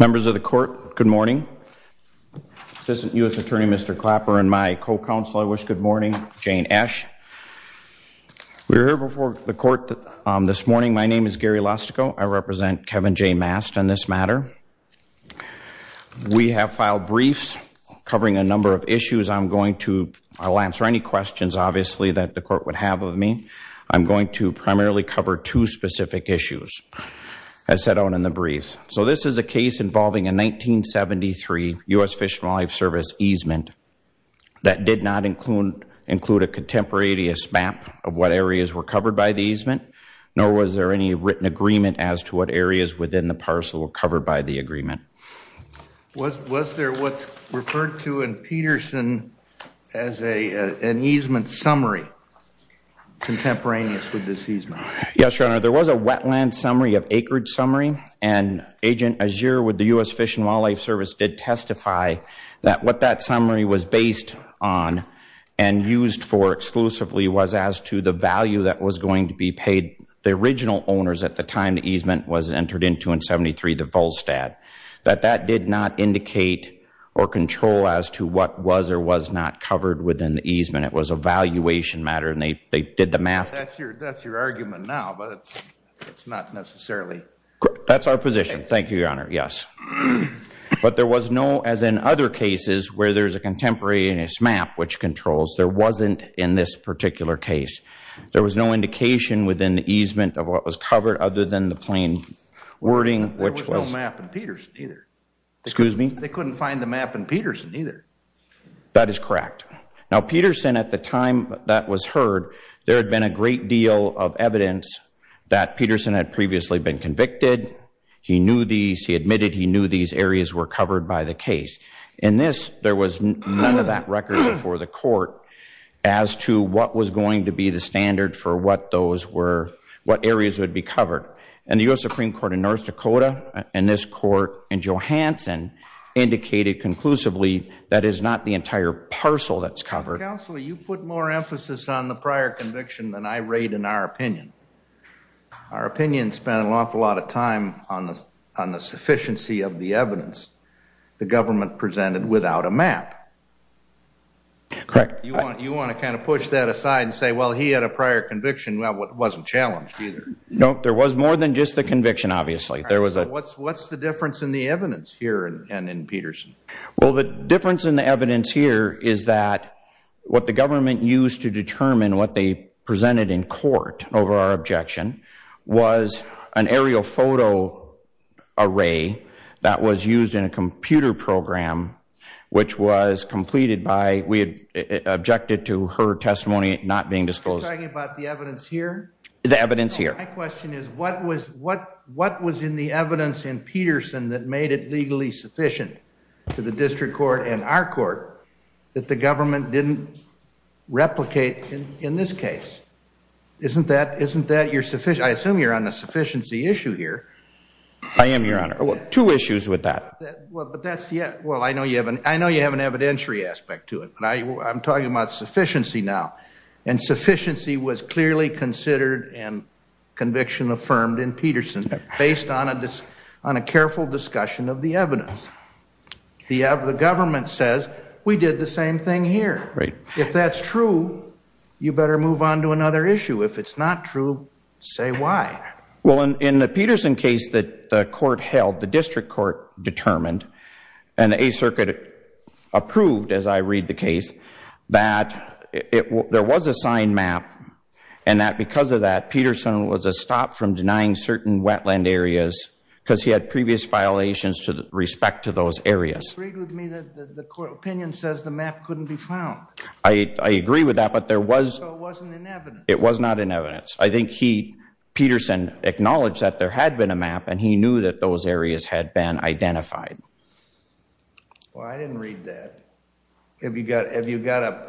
Members of the court, good morning. Assistant U.S. Attorney Mr. Clapper and my co-counsel, I wish good morning, Jane Esch. We're here before the court this morning. My name is Gary Lostico. I represent Kevin Jay Mast on this matter. We have filed briefs covering a number of issues. I'm going to, I'll answer any questions, obviously, that the court would have of me. I'm going to primarily cover two specific issues, as set out in the briefs. So this is a case involving a 1973 U.S. Fish and Wildlife Service easement that did not include a contemporaneous map of what areas were covered by the easement, nor was there any written agreement as to what areas within the parcel were covered by the agreement. Was there what's referred to in Peterson as an easement summary, contemporaneous with this easement? Yes, Your Honor, there was a wetland summary of acreage summary, and Agent Azure with the U.S. Fish and Wildlife Service did testify that what that summary was based on and used for exclusively was as to the value that was going to be paid by the original owners at the time the easement was entered into in 1973, the Volstad, that that did not indicate or control as to what was or was not covered within the easement. It was a valuation matter, and they did the math. That's your argument now, but it's not necessarily. That's our position. Thank you, Your Honor. Yes. But there was no, as in other cases where there's a contemporaneous map which controls, there wasn't in this particular case. There was no indication within the easement of what was covered other than the plain wording, which was. There was no map in Peterson, either. Excuse me? They couldn't find the map in Peterson, either. That is correct. Now, Peterson, at the time that was heard, there had been a great deal of evidence that Peterson had previously been convicted. He knew these, he admitted he knew these areas were covered by the case. In this, there was none of that record before the court as to what was going to be the standard for what those were, what areas would be covered. And the U.S. Supreme Court in North Dakota and this court in Johansson indicated conclusively that is not the entire parcel that's covered. Counsel, you put more emphasis on the prior conviction than I rate in our opinion. Our opinion spent an awful lot of time on the sufficiency of the evidence the government presented without a map. Correct. You want to kind of push that aside and say, well, he had a prior conviction. Well, it wasn't challenged, either. No, there was more than just the conviction, obviously. There was a. What's the difference in the evidence here and in Peterson? Well, the difference in the evidence here is that what the government used to determine what they presented in court over our objection was an aerial photo array that was used in a computer program, which was completed by, we objected to her testimony not being disclosed. Are you talking about the evidence here? The evidence here. My question is, what was in the evidence in Peterson that made it legally sufficient to the district court and our court that the government didn't replicate in this case? Isn't that, isn't I assume you're on the sufficiency issue here? I am, Your Honor. Two issues with that. Well, but that's yet. Well, I know you haven't. I know you have an evidentiary aspect to it, but I'm talking about sufficiency now. And sufficiency was clearly considered and conviction affirmed in Peterson based on a careful discussion of the evidence. The government says we did the same thing here. If that's true, you better move on to another issue. If it's not true, say why. Well, in the Peterson case that the court held, the district court determined, and the Eighth Circuit approved, as I read the case, that there was a signed map and that because of that, Peterson was a stop from denying certain wetland areas because he had previous violations to respect to those areas. You agreed with me that the court opinion says the map couldn't be found. I agree with that, but there was. So it wasn't in evidence. It was not in evidence. I think he, Peterson, acknowledged that there had been a map and he knew that those areas had been identified. Well, I didn't read that. Have you got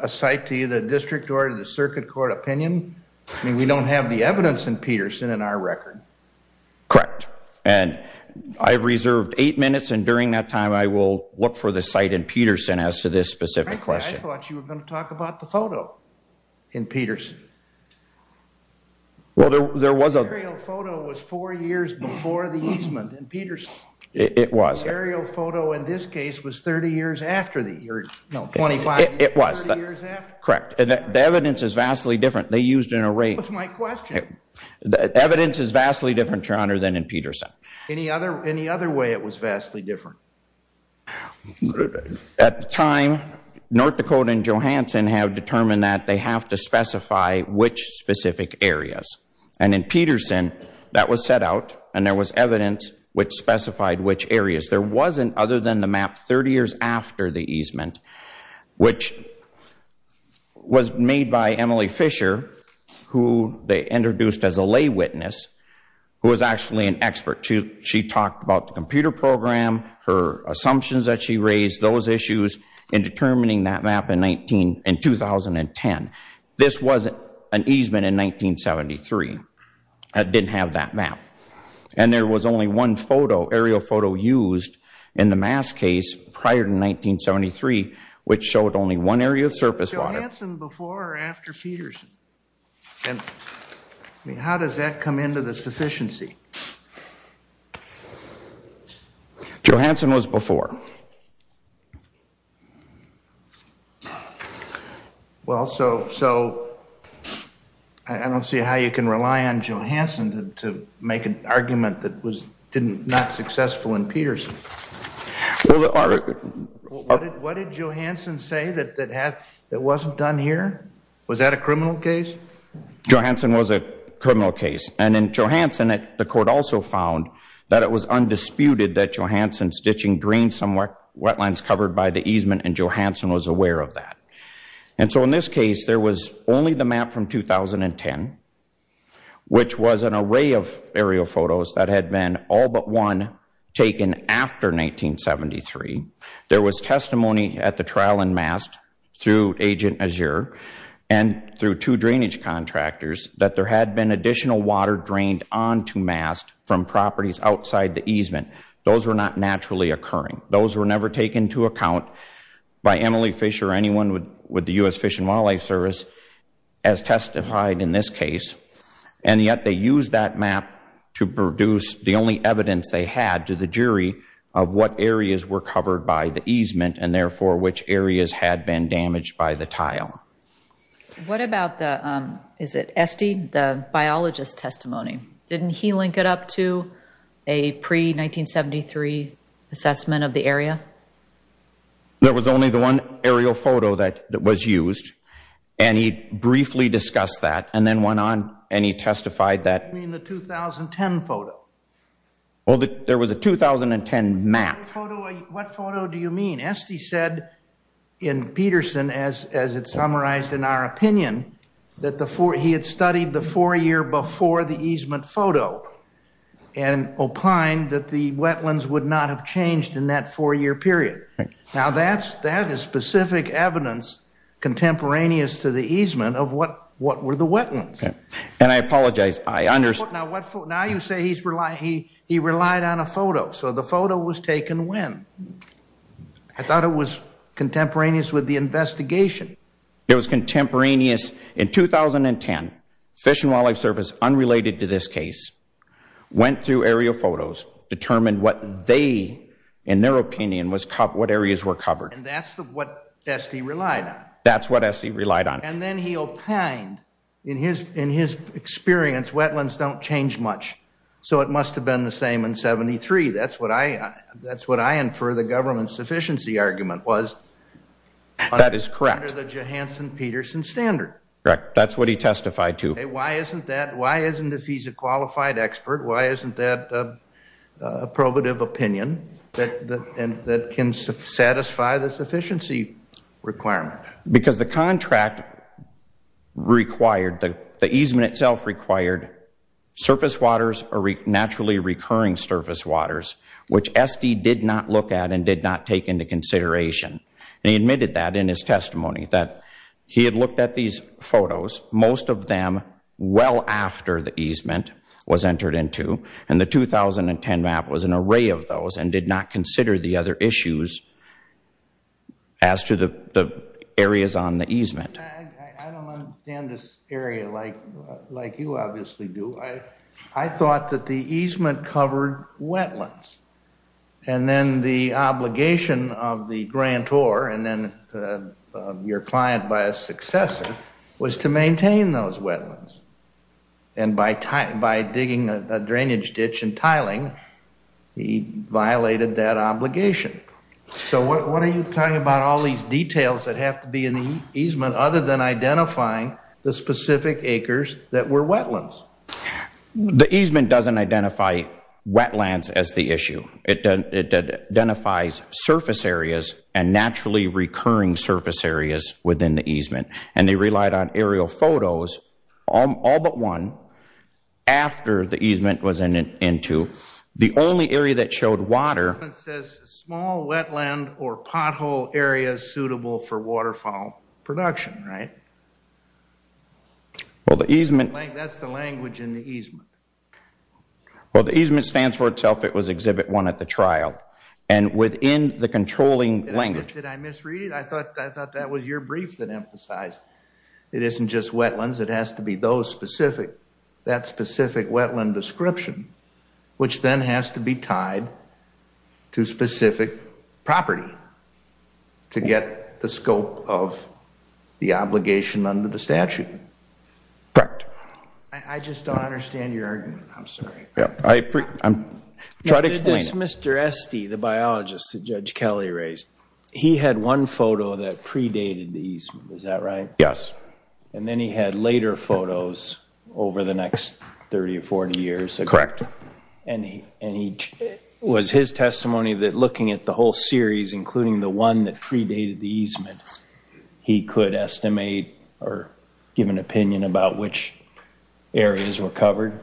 a site to either the district court or the circuit court opinion? I mean, we don't have the evidence in Peterson in our record. Correct. And I've reserved eight minutes and during that time I will look for the site in Peterson as to this specific question. Frankly, I thought you were going to talk about the photo in Peterson. Well, there was a photo was four years before the easement in Peterson. It was. Aerial photo in this case was 30 years after the year. No, 25. It was. Correct. And the evidence is vastly different. They used an array. That's my question. The evidence is vastly different, Your Honor, than in Peterson. Any other way it was vastly different? At the time, North Dakota and Johansson have determined that they have to specify which specific areas. And in Peterson, that was set out and there was evidence which specified which areas. There wasn't other than the map 30 years after the easement, which was made by Emily Fisher, who they introduced as a expert. She talked about the computer program, her assumptions that she raised, those issues in determining that map in 2010. This was an easement in 1973. It didn't have that map. And there was only one photo, aerial photo, used in the mass case prior to 1973, which showed only one area of surface water. Johansson before or after Peterson? I mean, how does that come into the sufficiency? Johansson was before. Well, so I don't see how you can rely on Johansson to make an argument that was not successful in Peterson. What did Johansson say that wasn't done here? Was that a criminal case? Johansson was a criminal case. And in Johansson, the court also found that it was undisputed that Johansson's ditching drained some wetlands covered by the easement, and Johansson was aware of that. And so in this case, there was only the map from 2010, which was an array of aerial photos that had been all but one taken after 1973. There was testimony at the trial in Mast through Agent Azure and through two drainage contractors that there had been additional water drained onto Mast from properties outside the easement. Those were not naturally occurring. Those were never taken into account by Emily Fisher or anyone with the U.S. Fish and Wildlife Service as they had to the jury of what areas were covered by the easement and therefore which areas had been damaged by the tile. What about the, is it Esty, the biologist's testimony? Didn't he link it up to a pre-1973 assessment of the area? There was only the one aerial photo that was used, and he briefly discussed that and then went on and he testified that... You mean the 2010 photo? Well, there was a 2010 map. What photo do you mean? Esty said in Peterson, as it summarized in our opinion, that he had studied the four year before the easement photo and opined that the wetlands would not have easement of what were the wetlands. And I apologize, I understand. Now you say he relied on a photo, so the photo was taken when? I thought it was contemporaneous with the investigation. It was contemporaneous. In 2010, Fish and Wildlife Service, unrelated to this case, went through aerial photos, determined what they, in their opinion, what areas were covered. And that's what Esty relied on? That's what Esty relied on. And then he opined, in his experience, wetlands don't change much, so it must have been the same in 73. That's what I infer the government's sufficiency argument was. That is correct. Under the Johansson-Peterson standard. Correct. That's what he testified to. Why isn't that, why isn't, if he's a qualified expert, why isn't that a probative opinion that can satisfy the sufficiency requirement? Because the contract required, the easement itself required surface waters or naturally recurring surface waters, which Esty did not look at and did not take into consideration. And he admitted that in his testimony, that he had looked at these photos, most of them well after the easement was entered into. And the 2010 map was an array of those and did not consider the other issues as to the areas on the easement. I don't understand this area like you obviously do. I thought that the easement covered wetlands. And then the obligation of the grantor and then your client by a successor was to maintain those wetlands. And by digging a drainage ditch and tiling, he violated that obligation. So what are you talking about all these details that have to be in the easement other than identifying the specific acres that were wetlands? The easement doesn't identify wetlands as the issue. It identifies surface areas and naturally recurring surface areas within the easement. And they relied on aerial photos, all but one, after the easement was entered into. The only area that showed water. It says small wetland or pothole areas suitable for waterfowl production, right? Well, the easement. That's the language in the easement. Well, the easement stands for itself. It was Exhibit 1 at the trial. And within the controlling language. Did I misread it? I thought that was your brief that emphasized it isn't just wetlands. It has to be those specific, that specific wetland description, which then has to be tied to specific property to get the scope of the obligation under the statute. Correct. I just don't understand your argument. I'm sorry. Try to explain it. Mr. Esty, the biologist that Judge Kelly raised, he had one photo that predated the easement. Is that right? Yes. And then he had later photos over the next 30 or 40 years. Correct. And was his testimony that looking at the whole series, including the one that predated the easement, he could estimate or give an opinion about which areas were covered?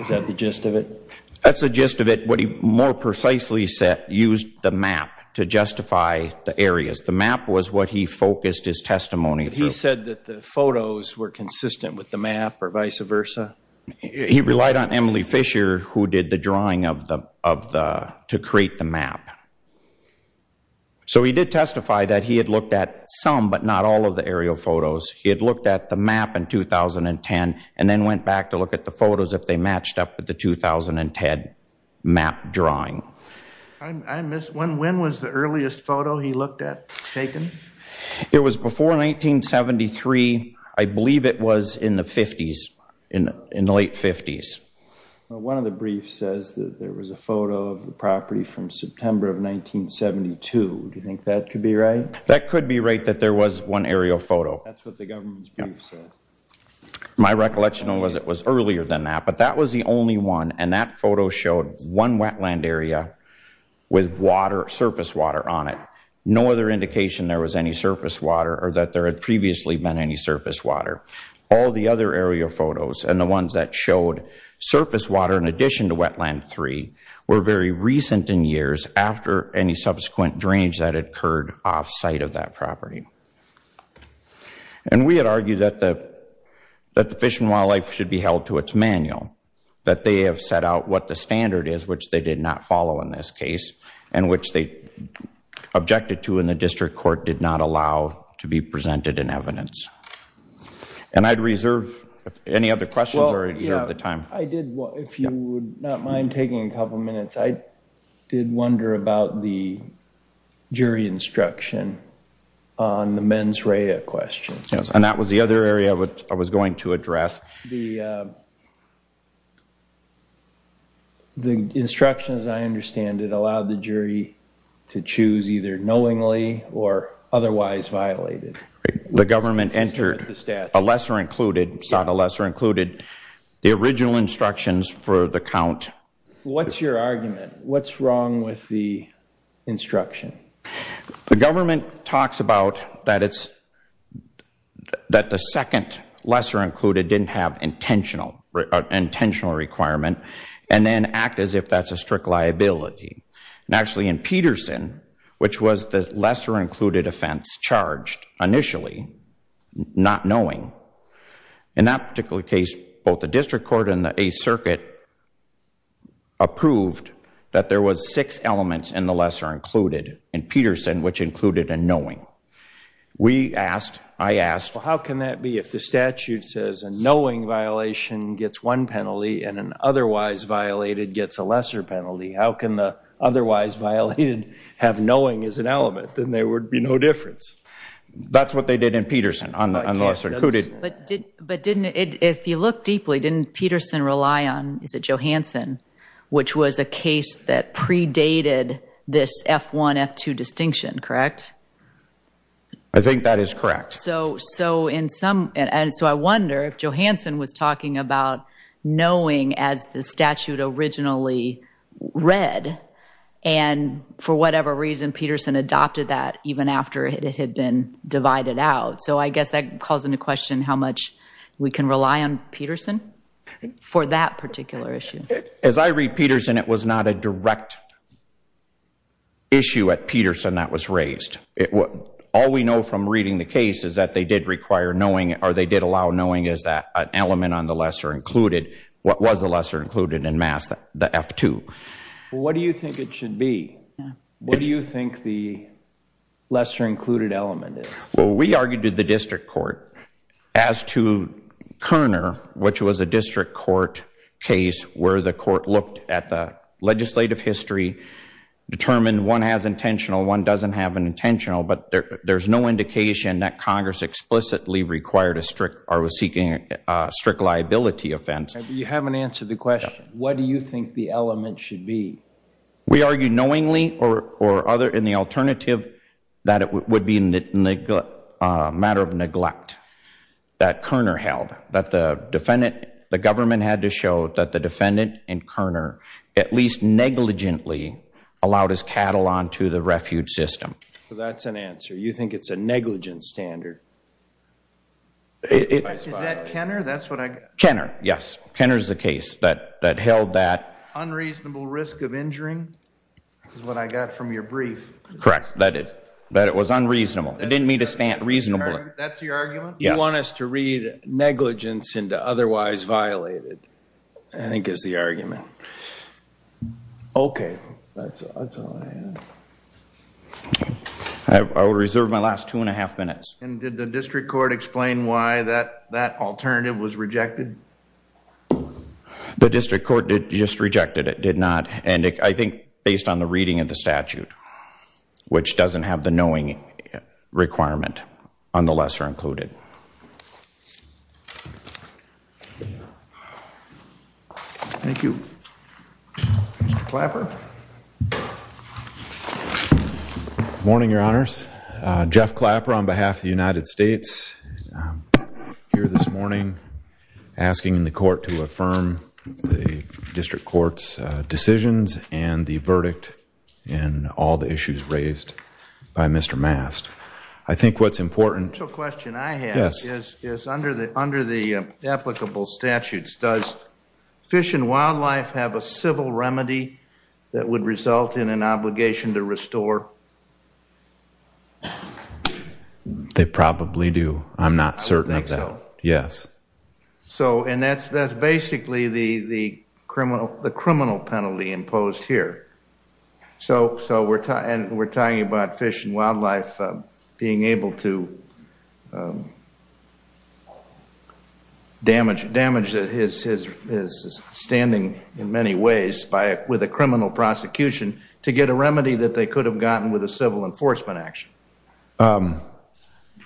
Is that the gist of it? That's the gist of it. More precisely said, used the map to justify the areas. The map was what he focused his testimony through. He said that the photos were consistent with the map or vice versa? He relied on Emily Fisher, who did the drawing to create the map. So he did testify that he had looked at some but not all of the aerial photos. He had looked at the map in 2010 and then went back to look at the photos if they matched up with the 2010 map drawing. When was the earliest photo he looked at taken? It was before 1973. I believe it was in the 50s, in the late 50s. One of the briefs says that there was a photo of the property from September of 1972. Do you think that could be right? That could be right, that there was one aerial photo. That's what the government's brief said. My recollection was it was earlier than that. But that was the only one. And that photo showed one wetland area with water, surface water on it. No other indication there was any surface water or that there had previously been any surface water. All the other aerial photos and the ones that showed surface water in addition to Wetland 3 were very recent in years after any subsequent drains that had occurred off site of that property. And we had argued that the Fish and Wildlife should be held to its manual, that they have set out what the standard is, which they did not follow in this case, and which they objected to in the district court did not allow to be presented in evidence. And I'd reserve any other questions or reserve the time. I did, if you would not mind taking a couple minutes, I did wonder about the jury instruction. On the mens rea question. Yes, and that was the other area I was going to address. The instruction, as I understand it, allowed the jury to choose either knowingly or otherwise violated. The government entered a lesser included, sought a lesser included the original instructions for the count. What's your argument? What's wrong with the instruction? The government talks about that it's, that the second lesser included didn't have intentional requirement and then act as if that's a strict liability. And actually in Peterson, which was the lesser included offense charged initially, not knowing. In that particular case, both the district court and the Eighth Circuit approved that there was six elements in the lesser included. In Peterson, which included a knowing. We asked, I asked. Well, how can that be? If the statute says a knowing violation gets one penalty and an otherwise violated gets a lesser penalty, how can the otherwise violated have knowing as an element? Then there would be no difference. That's what they did in Peterson on the lesser included. But didn't it, if you look deeply, didn't Peterson rely on, is it Johansson, which was a case that predated this F1, F2 distinction, correct? I think that is correct. So, so in some, and so I wonder if Johansson was talking about knowing as the statute originally read. And for whatever reason, Peterson adopted that even after it had been divided out. So I guess that calls into question how much we can rely on Peterson for that particular issue. As I read Peterson, it was not a direct issue at Peterson that was raised. All we know from reading the case is that they did require knowing, or they did allow knowing as an element on the lesser included. What was the lesser included in MAS, the F2? Well, what do you think it should be? What do you think the lesser included element is? Well, we argued to the district court as to Kerner, which was a district court case where the court looked at the legislative history, determined one has intentional, one doesn't have an intentional, but there's no indication that Congress explicitly required a strict, or was seeking a strict liability offense. You haven't answered the question. What do you think the element should be? We argued knowingly or other in the alternative that it would be a matter of neglect that Kerner held, that the government had to show that the defendant and Kerner at least negligently allowed his cattle onto the refuge system. That's an answer. You think it's a negligent standard? Is that Kenner? That's what I got. Kenner, yes. Kenner is the case that held that. Unreasonable risk of injury is what I got from your brief. Correct, that it was unreasonable. It didn't mean to stand reasonably. That's your argument? You want us to read negligence into otherwise violated, I think is the argument. Okay, that's all I have. I will reserve my last two and a half minutes. And did the district court explain why that alternative was rejected? The district court just rejected it, did not. And I think based on the reading of the statute, which doesn't have the knowing requirement on the lesser included. Thank you, Mr. Clapper. Morning, your honors. Jeff Clapper on behalf of the United States here this morning, asking the court to affirm the district court's decisions and the verdict in all the issues raised by Mr. Mast. I think what's important. The question I have is under the applicable statutes, does Fish and Wildlife have a civil remedy that would result in an obligation to restore? They probably do. I'm not certain of that. Yes. So and that's basically the criminal penalty imposed here. So we're talking about Fish and Wildlife being able to damage his standing in many ways with a criminal prosecution to get a remedy that they could have gotten with a civil enforcement action.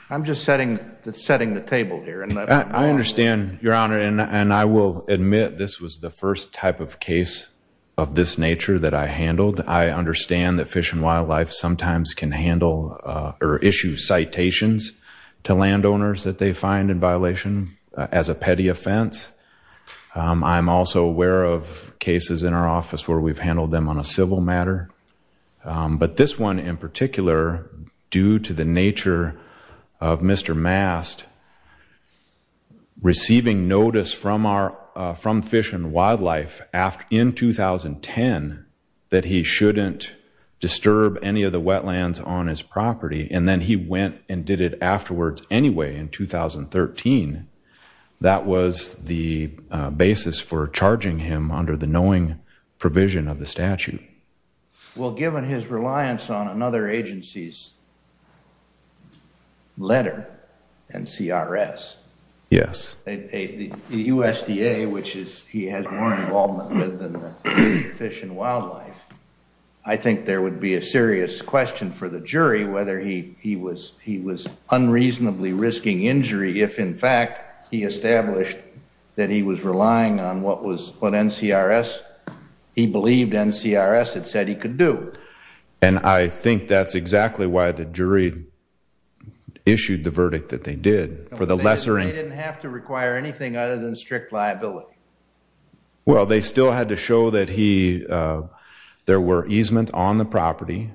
I'm just setting the table here. I understand, your honor. And I will admit this was the first type of case of this nature that I handled. I understand that Fish and Wildlife sometimes can handle or issue citations. To landowners that they find in violation as a petty offense. I'm also aware of cases in our office where we've handled them on a civil matter. But this one in particular, due to the nature of Mr. Mast. Receiving notice from our from Fish and Wildlife after in 2010, that he shouldn't disturb any of the wetlands on his property. And then he went and did it afterwards anyway in 2013. That was the basis for charging him under the knowing provision of the statute. Well, given his reliance on another agency's letter, NCRS. Yes. The USDA, which he has more involvement with than Fish and Wildlife. I think there would be a serious question for the jury. Whether he was unreasonably risking injury. If in fact, he established that he was relying on what was what NCRS. He believed NCRS had said he could do. And I think that's exactly why the jury issued the verdict that they did for the lesser. They didn't have to require anything other than strict liability. Well, they still had to show that there were easements on the property.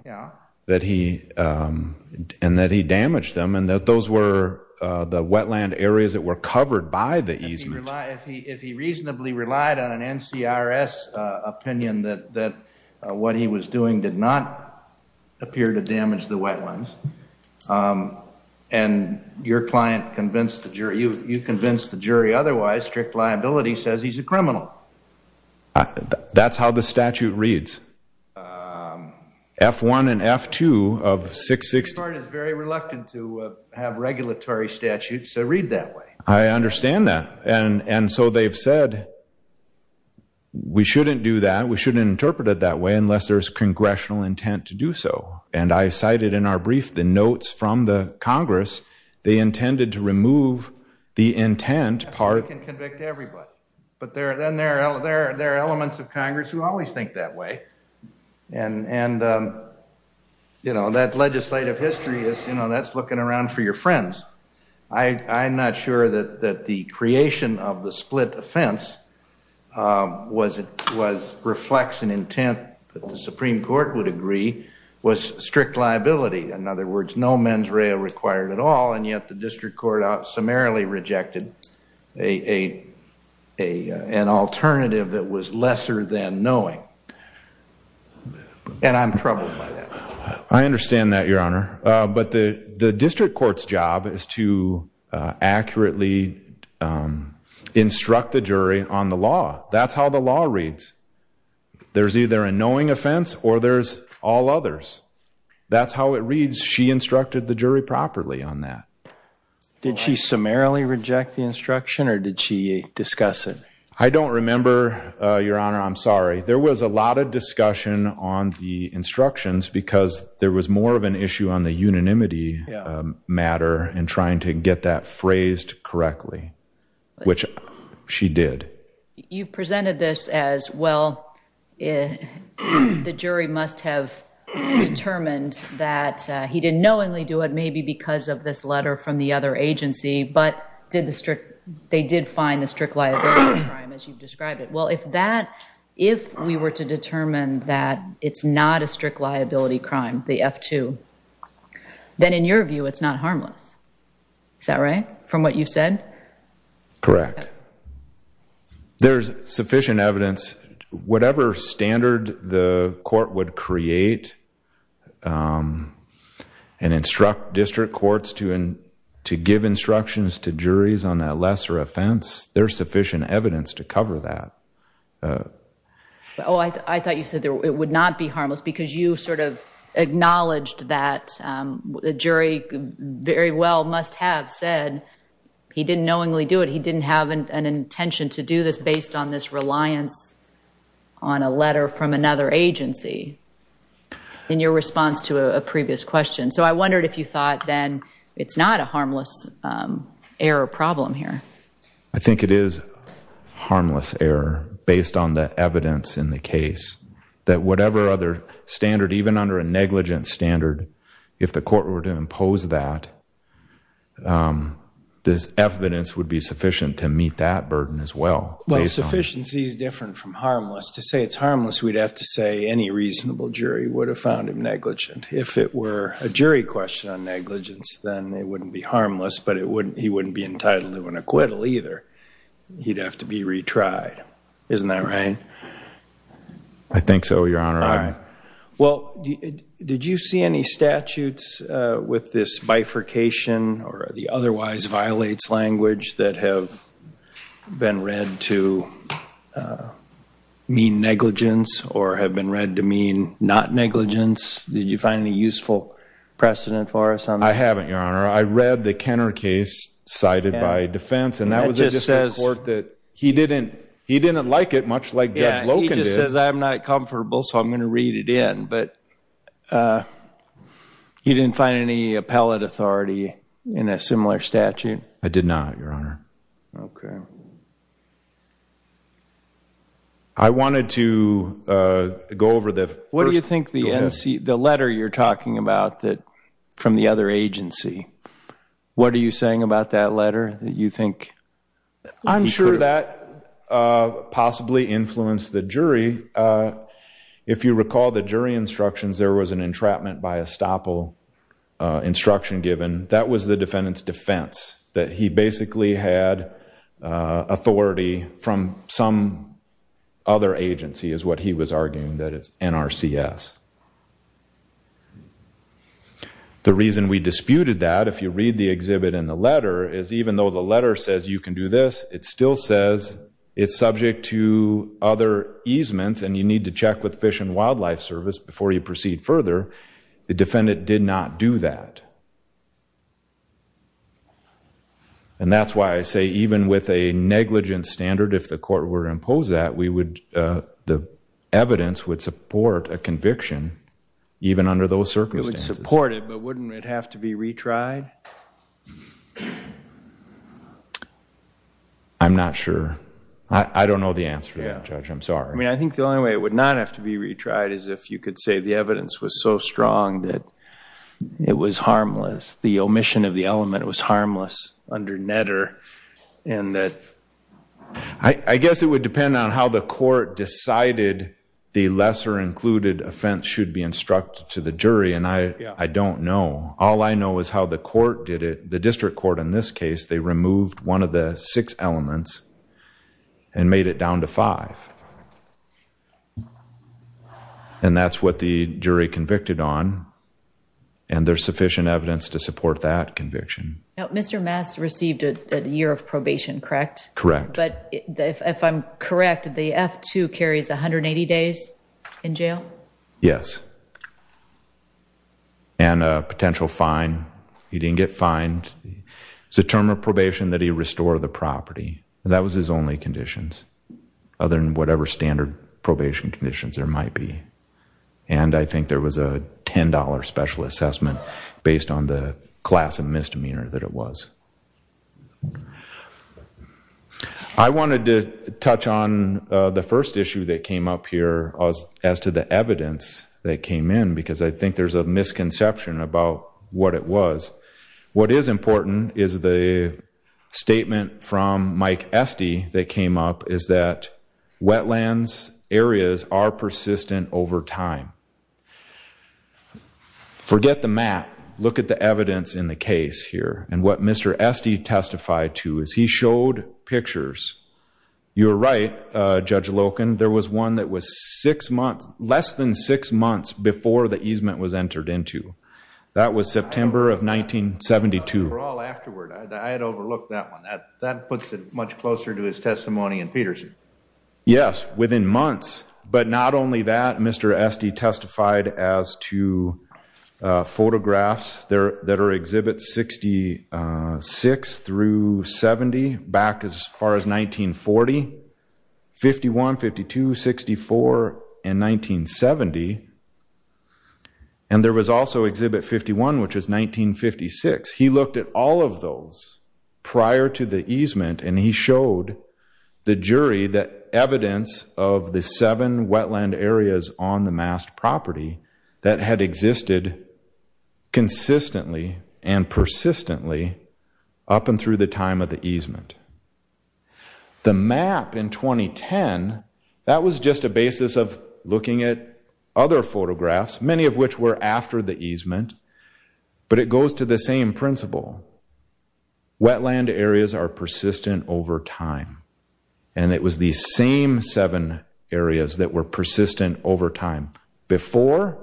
And that he damaged them. And that those were the wetland areas that were covered by the easement. If he reasonably relied on an NCRS opinion, that what he was doing did not appear to damage the wetlands. And your client convinced the jury. You convinced the jury otherwise. Strict liability says he's a criminal. That's how the statute reads. F-1 and F-2 of 660. The court is very reluctant to have regulatory statutes read that way. I understand that. And so they've said we shouldn't do that. We shouldn't interpret it that way unless there's congressional intent to do so. And I cited in our brief the notes from the Congress. They intended to remove the intent part. We can convict everybody. But then there are elements of Congress who always think that way. And that legislative history, that's looking around for your friends. I'm not sure that the creation of the split offense reflects an intent that the Supreme Court would agree was strict liability. In other words, no men's rail required at all. And yet the district court summarily rejected an alternative that was lesser than knowing. And I'm troubled by that. I understand that, Your Honor. But the district court's job is to accurately instruct the jury on the law. That's how the law reads. There's either a knowing offense or there's all others. That's how it reads. She instructed the jury properly on that. Did she summarily reject the instruction or did she discuss it? I don't remember, Your Honor. I'm sorry. There was a lot of discussion on the instructions because there was more of an issue on the unanimity matter and trying to get that phrased correctly, which she did. You presented this as, well, the jury must have determined that he didn't knowingly do because of this letter from the other agency, but they did find the strict liability crime, as you've described it. Well, if we were to determine that it's not a strict liability crime, the F-2, then in your view, it's not harmless. Is that right? From what you've said? Correct. There's sufficient evidence. Whatever standard the court would create and instruct district courts to give instructions to juries on that lesser offense, there's sufficient evidence to cover that. I thought you said it would not be harmless because you acknowledged that the jury very well must have said he didn't knowingly do it, he didn't have an intention to do this based on this reliance on a letter from another agency in your response to a previous question. So I wondered if you thought then it's not a harmless error problem here. I think it is harmless error based on the evidence in the case that whatever other standard, even under a negligent standard, if the court were to impose that, this evidence would be sufficient to meet that burden as well. Sufficiency is different from harmless. To say it's harmless, we'd have to say any reasonable jury would have found him negligent. If it were a jury question on negligence, then it wouldn't be harmless, but he wouldn't be entitled to an acquittal either. He'd have to be retried. Isn't that right? I think so, Your Honor. Well, did you see any statutes with this bifurcation or the otherwise violates language that have been read to mean negligence or have been read to mean not negligence? Did you find any useful precedent for us on that? I haven't, Your Honor. I read the Kenner case cited by defense, and that was a court that he didn't like it much like Judge Loken did. Yeah, he just says, I'm not comfortable, so I'm going to read it in. But he didn't find any appellate authority in a similar statute? I did not, Your Honor. OK. I wanted to go over the first. What do you think the letter you're talking about from the other agency, what are you saying about that letter that you think? I'm sure that possibly influenced the jury. If you recall the jury instructions, there was an entrapment by estoppel instruction given. That was the defendant's defense, that he basically had authority from some other agency is what he was arguing, that is NRCS. The reason we disputed that, if you read the exhibit in the letter, is even though the letter says you can do this, it still says it's subject to other easements and you need to check with Fish and Wildlife Service before you proceed further. The defendant did not do that. And that's why I say even with a negligent standard, if the court were to impose that, we would, the evidence would support a conviction, even under those circumstances. It would support it, but wouldn't it have to be retried? I'm not sure. I don't know the answer to that, Judge. I'm sorry. I mean, I think the only way it would not have to be retried is if you could say the omission of the element was harmless under Netter and that... I guess it would depend on how the court decided the lesser included offense should be instructed to the jury. And I don't know. All I know is how the court did it, the district court in this case, they removed one of the six elements and made it down to five. And that's what the jury convicted on. And there's sufficient evidence to support that conviction. Now, Mr. Mass received a year of probation, correct? Correct. But if I'm correct, the F-2 carries 180 days in jail? Yes. And a potential fine. He didn't get fined. It's a term of probation that he restore the property. That was his only conditions, other than what he was charged with. Whatever standard probation conditions there might be. And I think there was a $10 special assessment based on the class of misdemeanor that it was. I wanted to touch on the first issue that came up here as to the evidence that came in because I think there's a misconception about what it was. What is important is the statement from Mike Esty that came up is that wetlands areas are persistent over time. Forget the map. Look at the evidence in the case here. And what Mr. Esty testified to is he showed pictures. You're right, Judge Loken, there was one that was six months, less than six months before the easement was entered into. That was September of 1972. Overall, afterward, I had overlooked that one. That puts it much closer to his testimony in Peterson. Yes, within months. But not only that, Mr. Esty testified as to photographs that are exhibit 66 through 70 back as far as 1940, 51, 52, 64, and 1970. And there was also exhibit 51, which was 1956. He looked at all of those prior to the easement. And he showed the jury that evidence of the seven wetland areas on the mass property that had existed consistently and persistently up and through the time of the easement. The map in 2010, that was just a basis of looking at other photographs, many of which were after the easement. But it goes to the same principle. Wetland areas are persistent over time. And it was the same seven areas that were persistent over time. Before,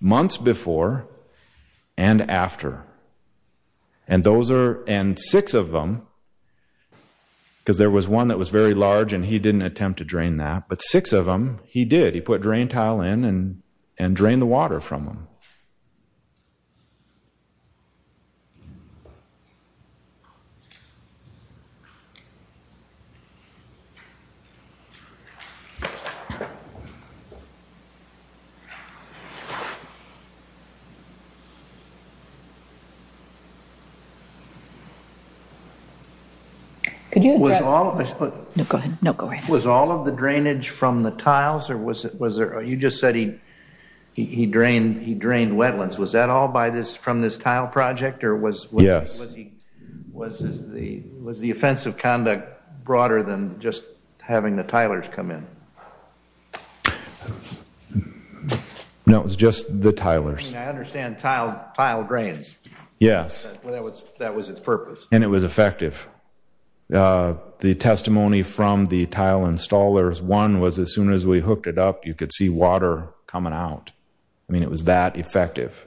months before, and after. And six of them, because there was one that was very large and he didn't attempt to drain that, but six of them, he did. He put drain tile in and drained the water from them. No, go ahead. Was all of the drainage from the tiles or was it, you just said he drained wetlands. Was that all by this, from this tile project or was the offensive conduct broader than just having the tilers come in? No, it was just the tilers. I understand tile drains. Yes. That was its purpose. And it was effective. The testimony from the tile installers, one was as soon as we hooked it up, you could see water coming out. I mean, it was that effective.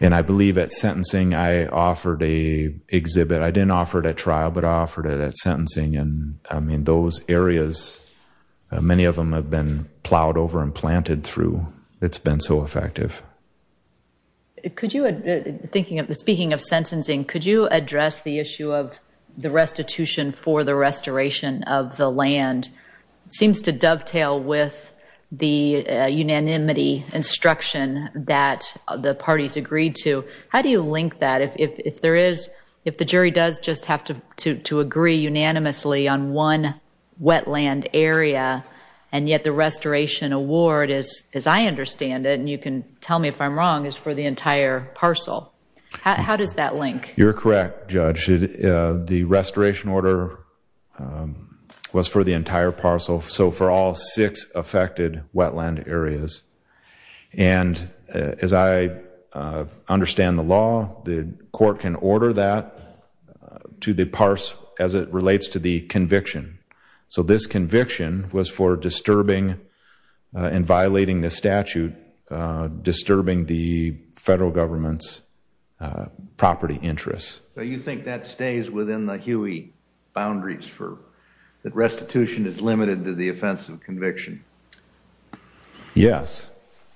And I believe at sentencing, I offered a exhibit. I didn't offer it at trial, but I offered it at sentencing. And I mean, those areas, many of them have been plowed over and planted through. It's been so effective. Speaking of sentencing, could you address the issue of the restitution for the restoration of the land? It seems to dovetail with the unanimity instruction that the parties agreed to. How do you link that? If the jury does just have to agree unanimously on one wetland area and yet the restoration award, as I understand it, and you can tell me if I'm wrong, is for the entire parcel. How does that link? You're correct, Judge. The restoration order was for the entire parcel. So for all six affected wetland areas. And as I understand the law, the court can order that as it relates to the conviction. So this conviction was for disturbing and violating the statute, disturbing the federal government's property interests. So you think that stays within the Huey boundaries for that restitution is limited to the offense of conviction? Yes,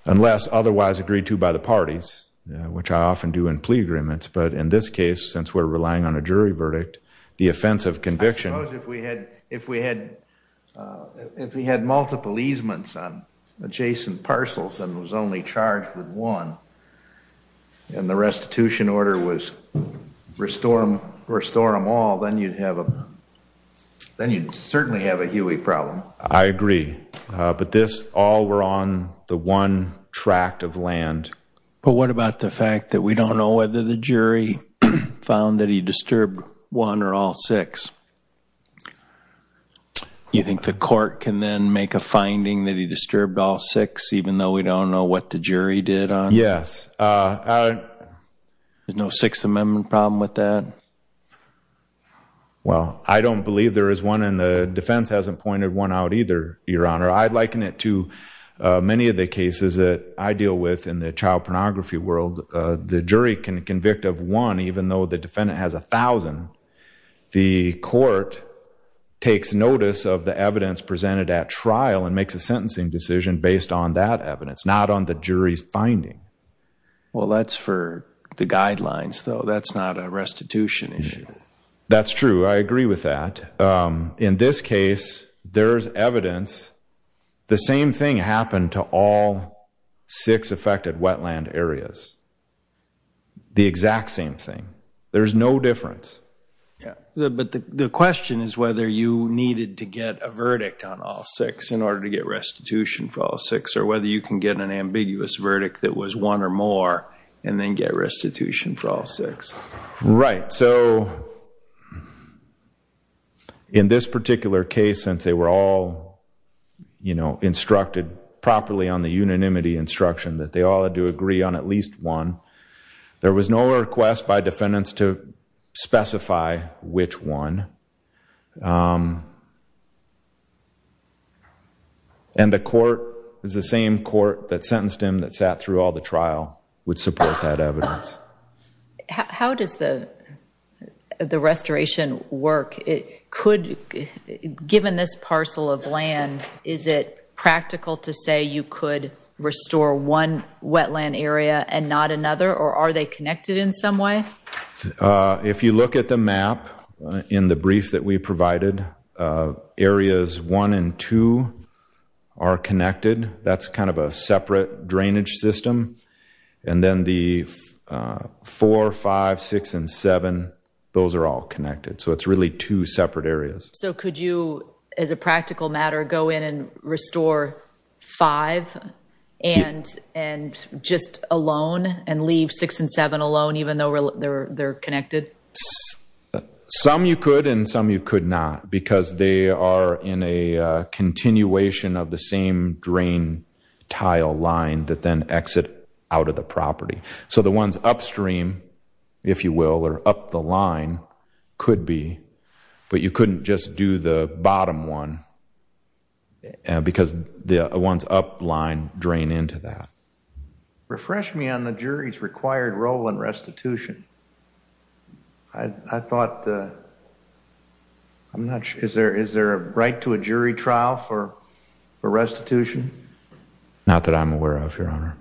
unless otherwise agreed to by the parties, which I often do in plea agreements. But in this case, since we're relying on a jury verdict, the offense of conviction. Suppose if we had multiple easements on adjacent parcels and it was only charged with one, and the restitution order was restore them all, then you'd certainly have a Huey problem. I agree. But this all were on the one tract of land. But what about the fact that we don't know whether the jury found that he disturbed one or all six? Do you think the court can then make a finding that he disturbed all six, even though we don't know what the jury did on? Yes. There's no Sixth Amendment problem with that? Well, I don't believe there is one. And the defense hasn't pointed one out either, Your Honor. I'd liken it to many of the cases that I deal with in the child pornography world. The jury can convict of one, even though the defendant has a thousand. The court takes notice of the evidence presented at trial and makes a sentencing decision based on that evidence, not on the jury's finding. Well, that's for the guidelines, though. That's not a restitution issue. That's true. I agree with that. In this case, there's evidence. The same thing happened to all six affected wetland areas. The exact same thing. There's no difference. But the question is whether you needed to get a verdict on all six in order to get restitution for all six, or whether you can get an ambiguous verdict that was one or more, and then get restitution for all six. Right. So in this particular case, since they were all instructed properly on the unanimity instruction that they all had to agree on at least one, there was no request by defendants to specify which one. And the court is the same court that sentenced him that sat through all the trial would support that evidence. How does the restoration work? Given this parcel of land, is it practical to say you could restore one wetland area and not another, or are they connected in some way? If you look at the map in the brief that we provided, areas one and two are connected. That's kind of a separate drainage system. And then the four, five, six, and seven, those are all connected. So it's really two separate areas. So could you, as a practical matter, go in and restore five and just alone, and leave six and seven alone, even though they're connected? Some you could, and some you could not. Because they are in a continuation of the same drain tile line that then exit out of the property. So the ones upstream, if you will, or up the line, could be. But you couldn't just do the bottom one, because the ones up line drain into that. Refresh me on the jury's required role in restitution. I thought, I'm not sure, is there a right to a jury trial for restitution? Not that I'm aware of, Your Honor.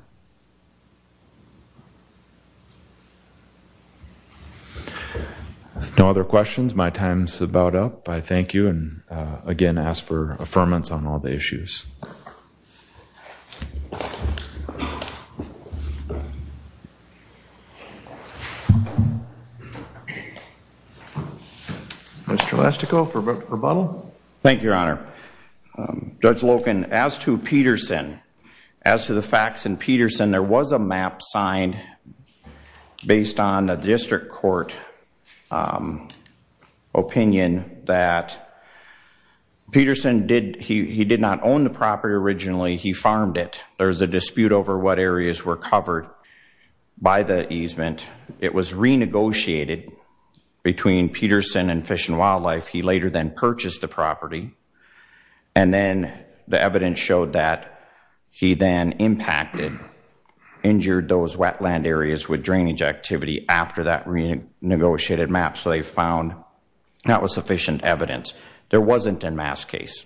No other questions. My time's about up. I thank you, and again, ask for affirmance on all the issues. Thank you, Your Honor. Mr. Lastico for rebuttal. Thank you, Your Honor. Judge Loken, as to Peterson, as to the facts in Peterson, there was a map signed based on the district court opinion that Peterson did, he did not own the property originally. He farmed it. There's a dispute over what areas were covered by the easement. It was renegotiated between Peterson and Fish and Wildlife. He later then purchased the property. And then the evidence showed that he then impacted, injured those wetland areas with drainage activity after that renegotiated map. So they found that was sufficient evidence. There wasn't a mass case.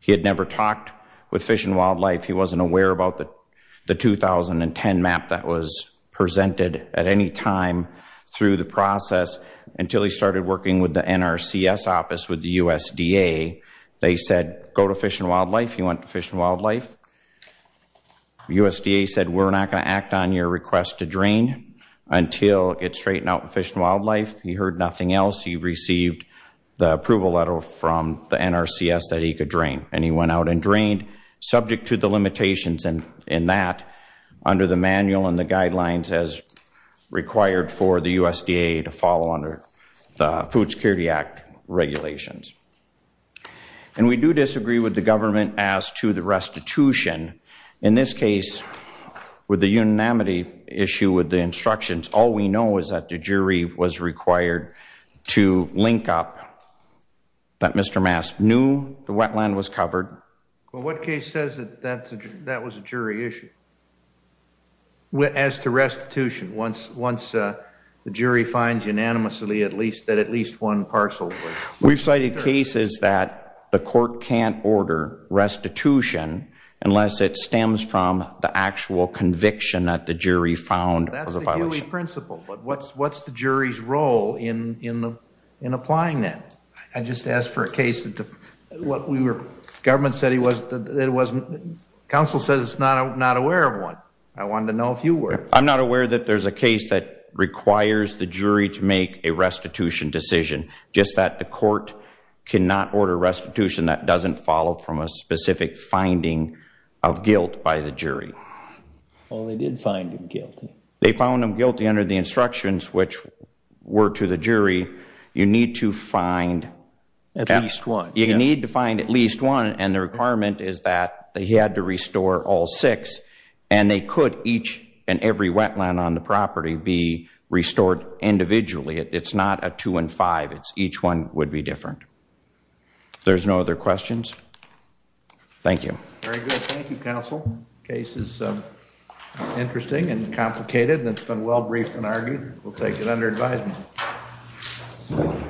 He had never talked with Fish and Wildlife. He wasn't aware about the 2010 map that was presented at any time through the process until he started working with the NRCS office with the USDA. They said, go to Fish and Wildlife. He went to Fish and Wildlife. USDA said, we're not going to act on your request to drain until it gets straightened out with Fish and Wildlife. He heard nothing else. He received the approval letter from the NRCS that he could drain. And he went out and drained, subject to the limitations in that under the manual and the guidelines as required for the USDA to follow under the Food Security Act regulations. And we do disagree with the government as to the restitution. In this case, with the unanimity issue with the instructions, all we know is that the Well, what case says that that was a jury issue? As to restitution, once the jury finds unanimously that at least one parcel was? We've cited cases that the court can't order restitution unless it stems from the actual conviction that the jury found. That's the Huey principle. But what's the jury's role in applying that? I just asked for a case that the government said it wasn't. Council says it's not aware of one. I wanted to know if you were. I'm not aware that there's a case that requires the jury to make a restitution decision. Just that the court cannot order restitution that doesn't follow from a specific finding of guilt by the jury. Well, they did find him guilty. They found him guilty under the instructions which were to the jury. You need to find at least one. You need to find at least one. And the requirement is that he had to restore all six. And they could each and every wetland on the property be restored individually. It's not a two and five. It's each one would be different. There's no other questions. Thank you. Very good. Thank you, counsel. Case is interesting and complicated. And it's been well briefed and argued. We'll take it under advisement. Thank you.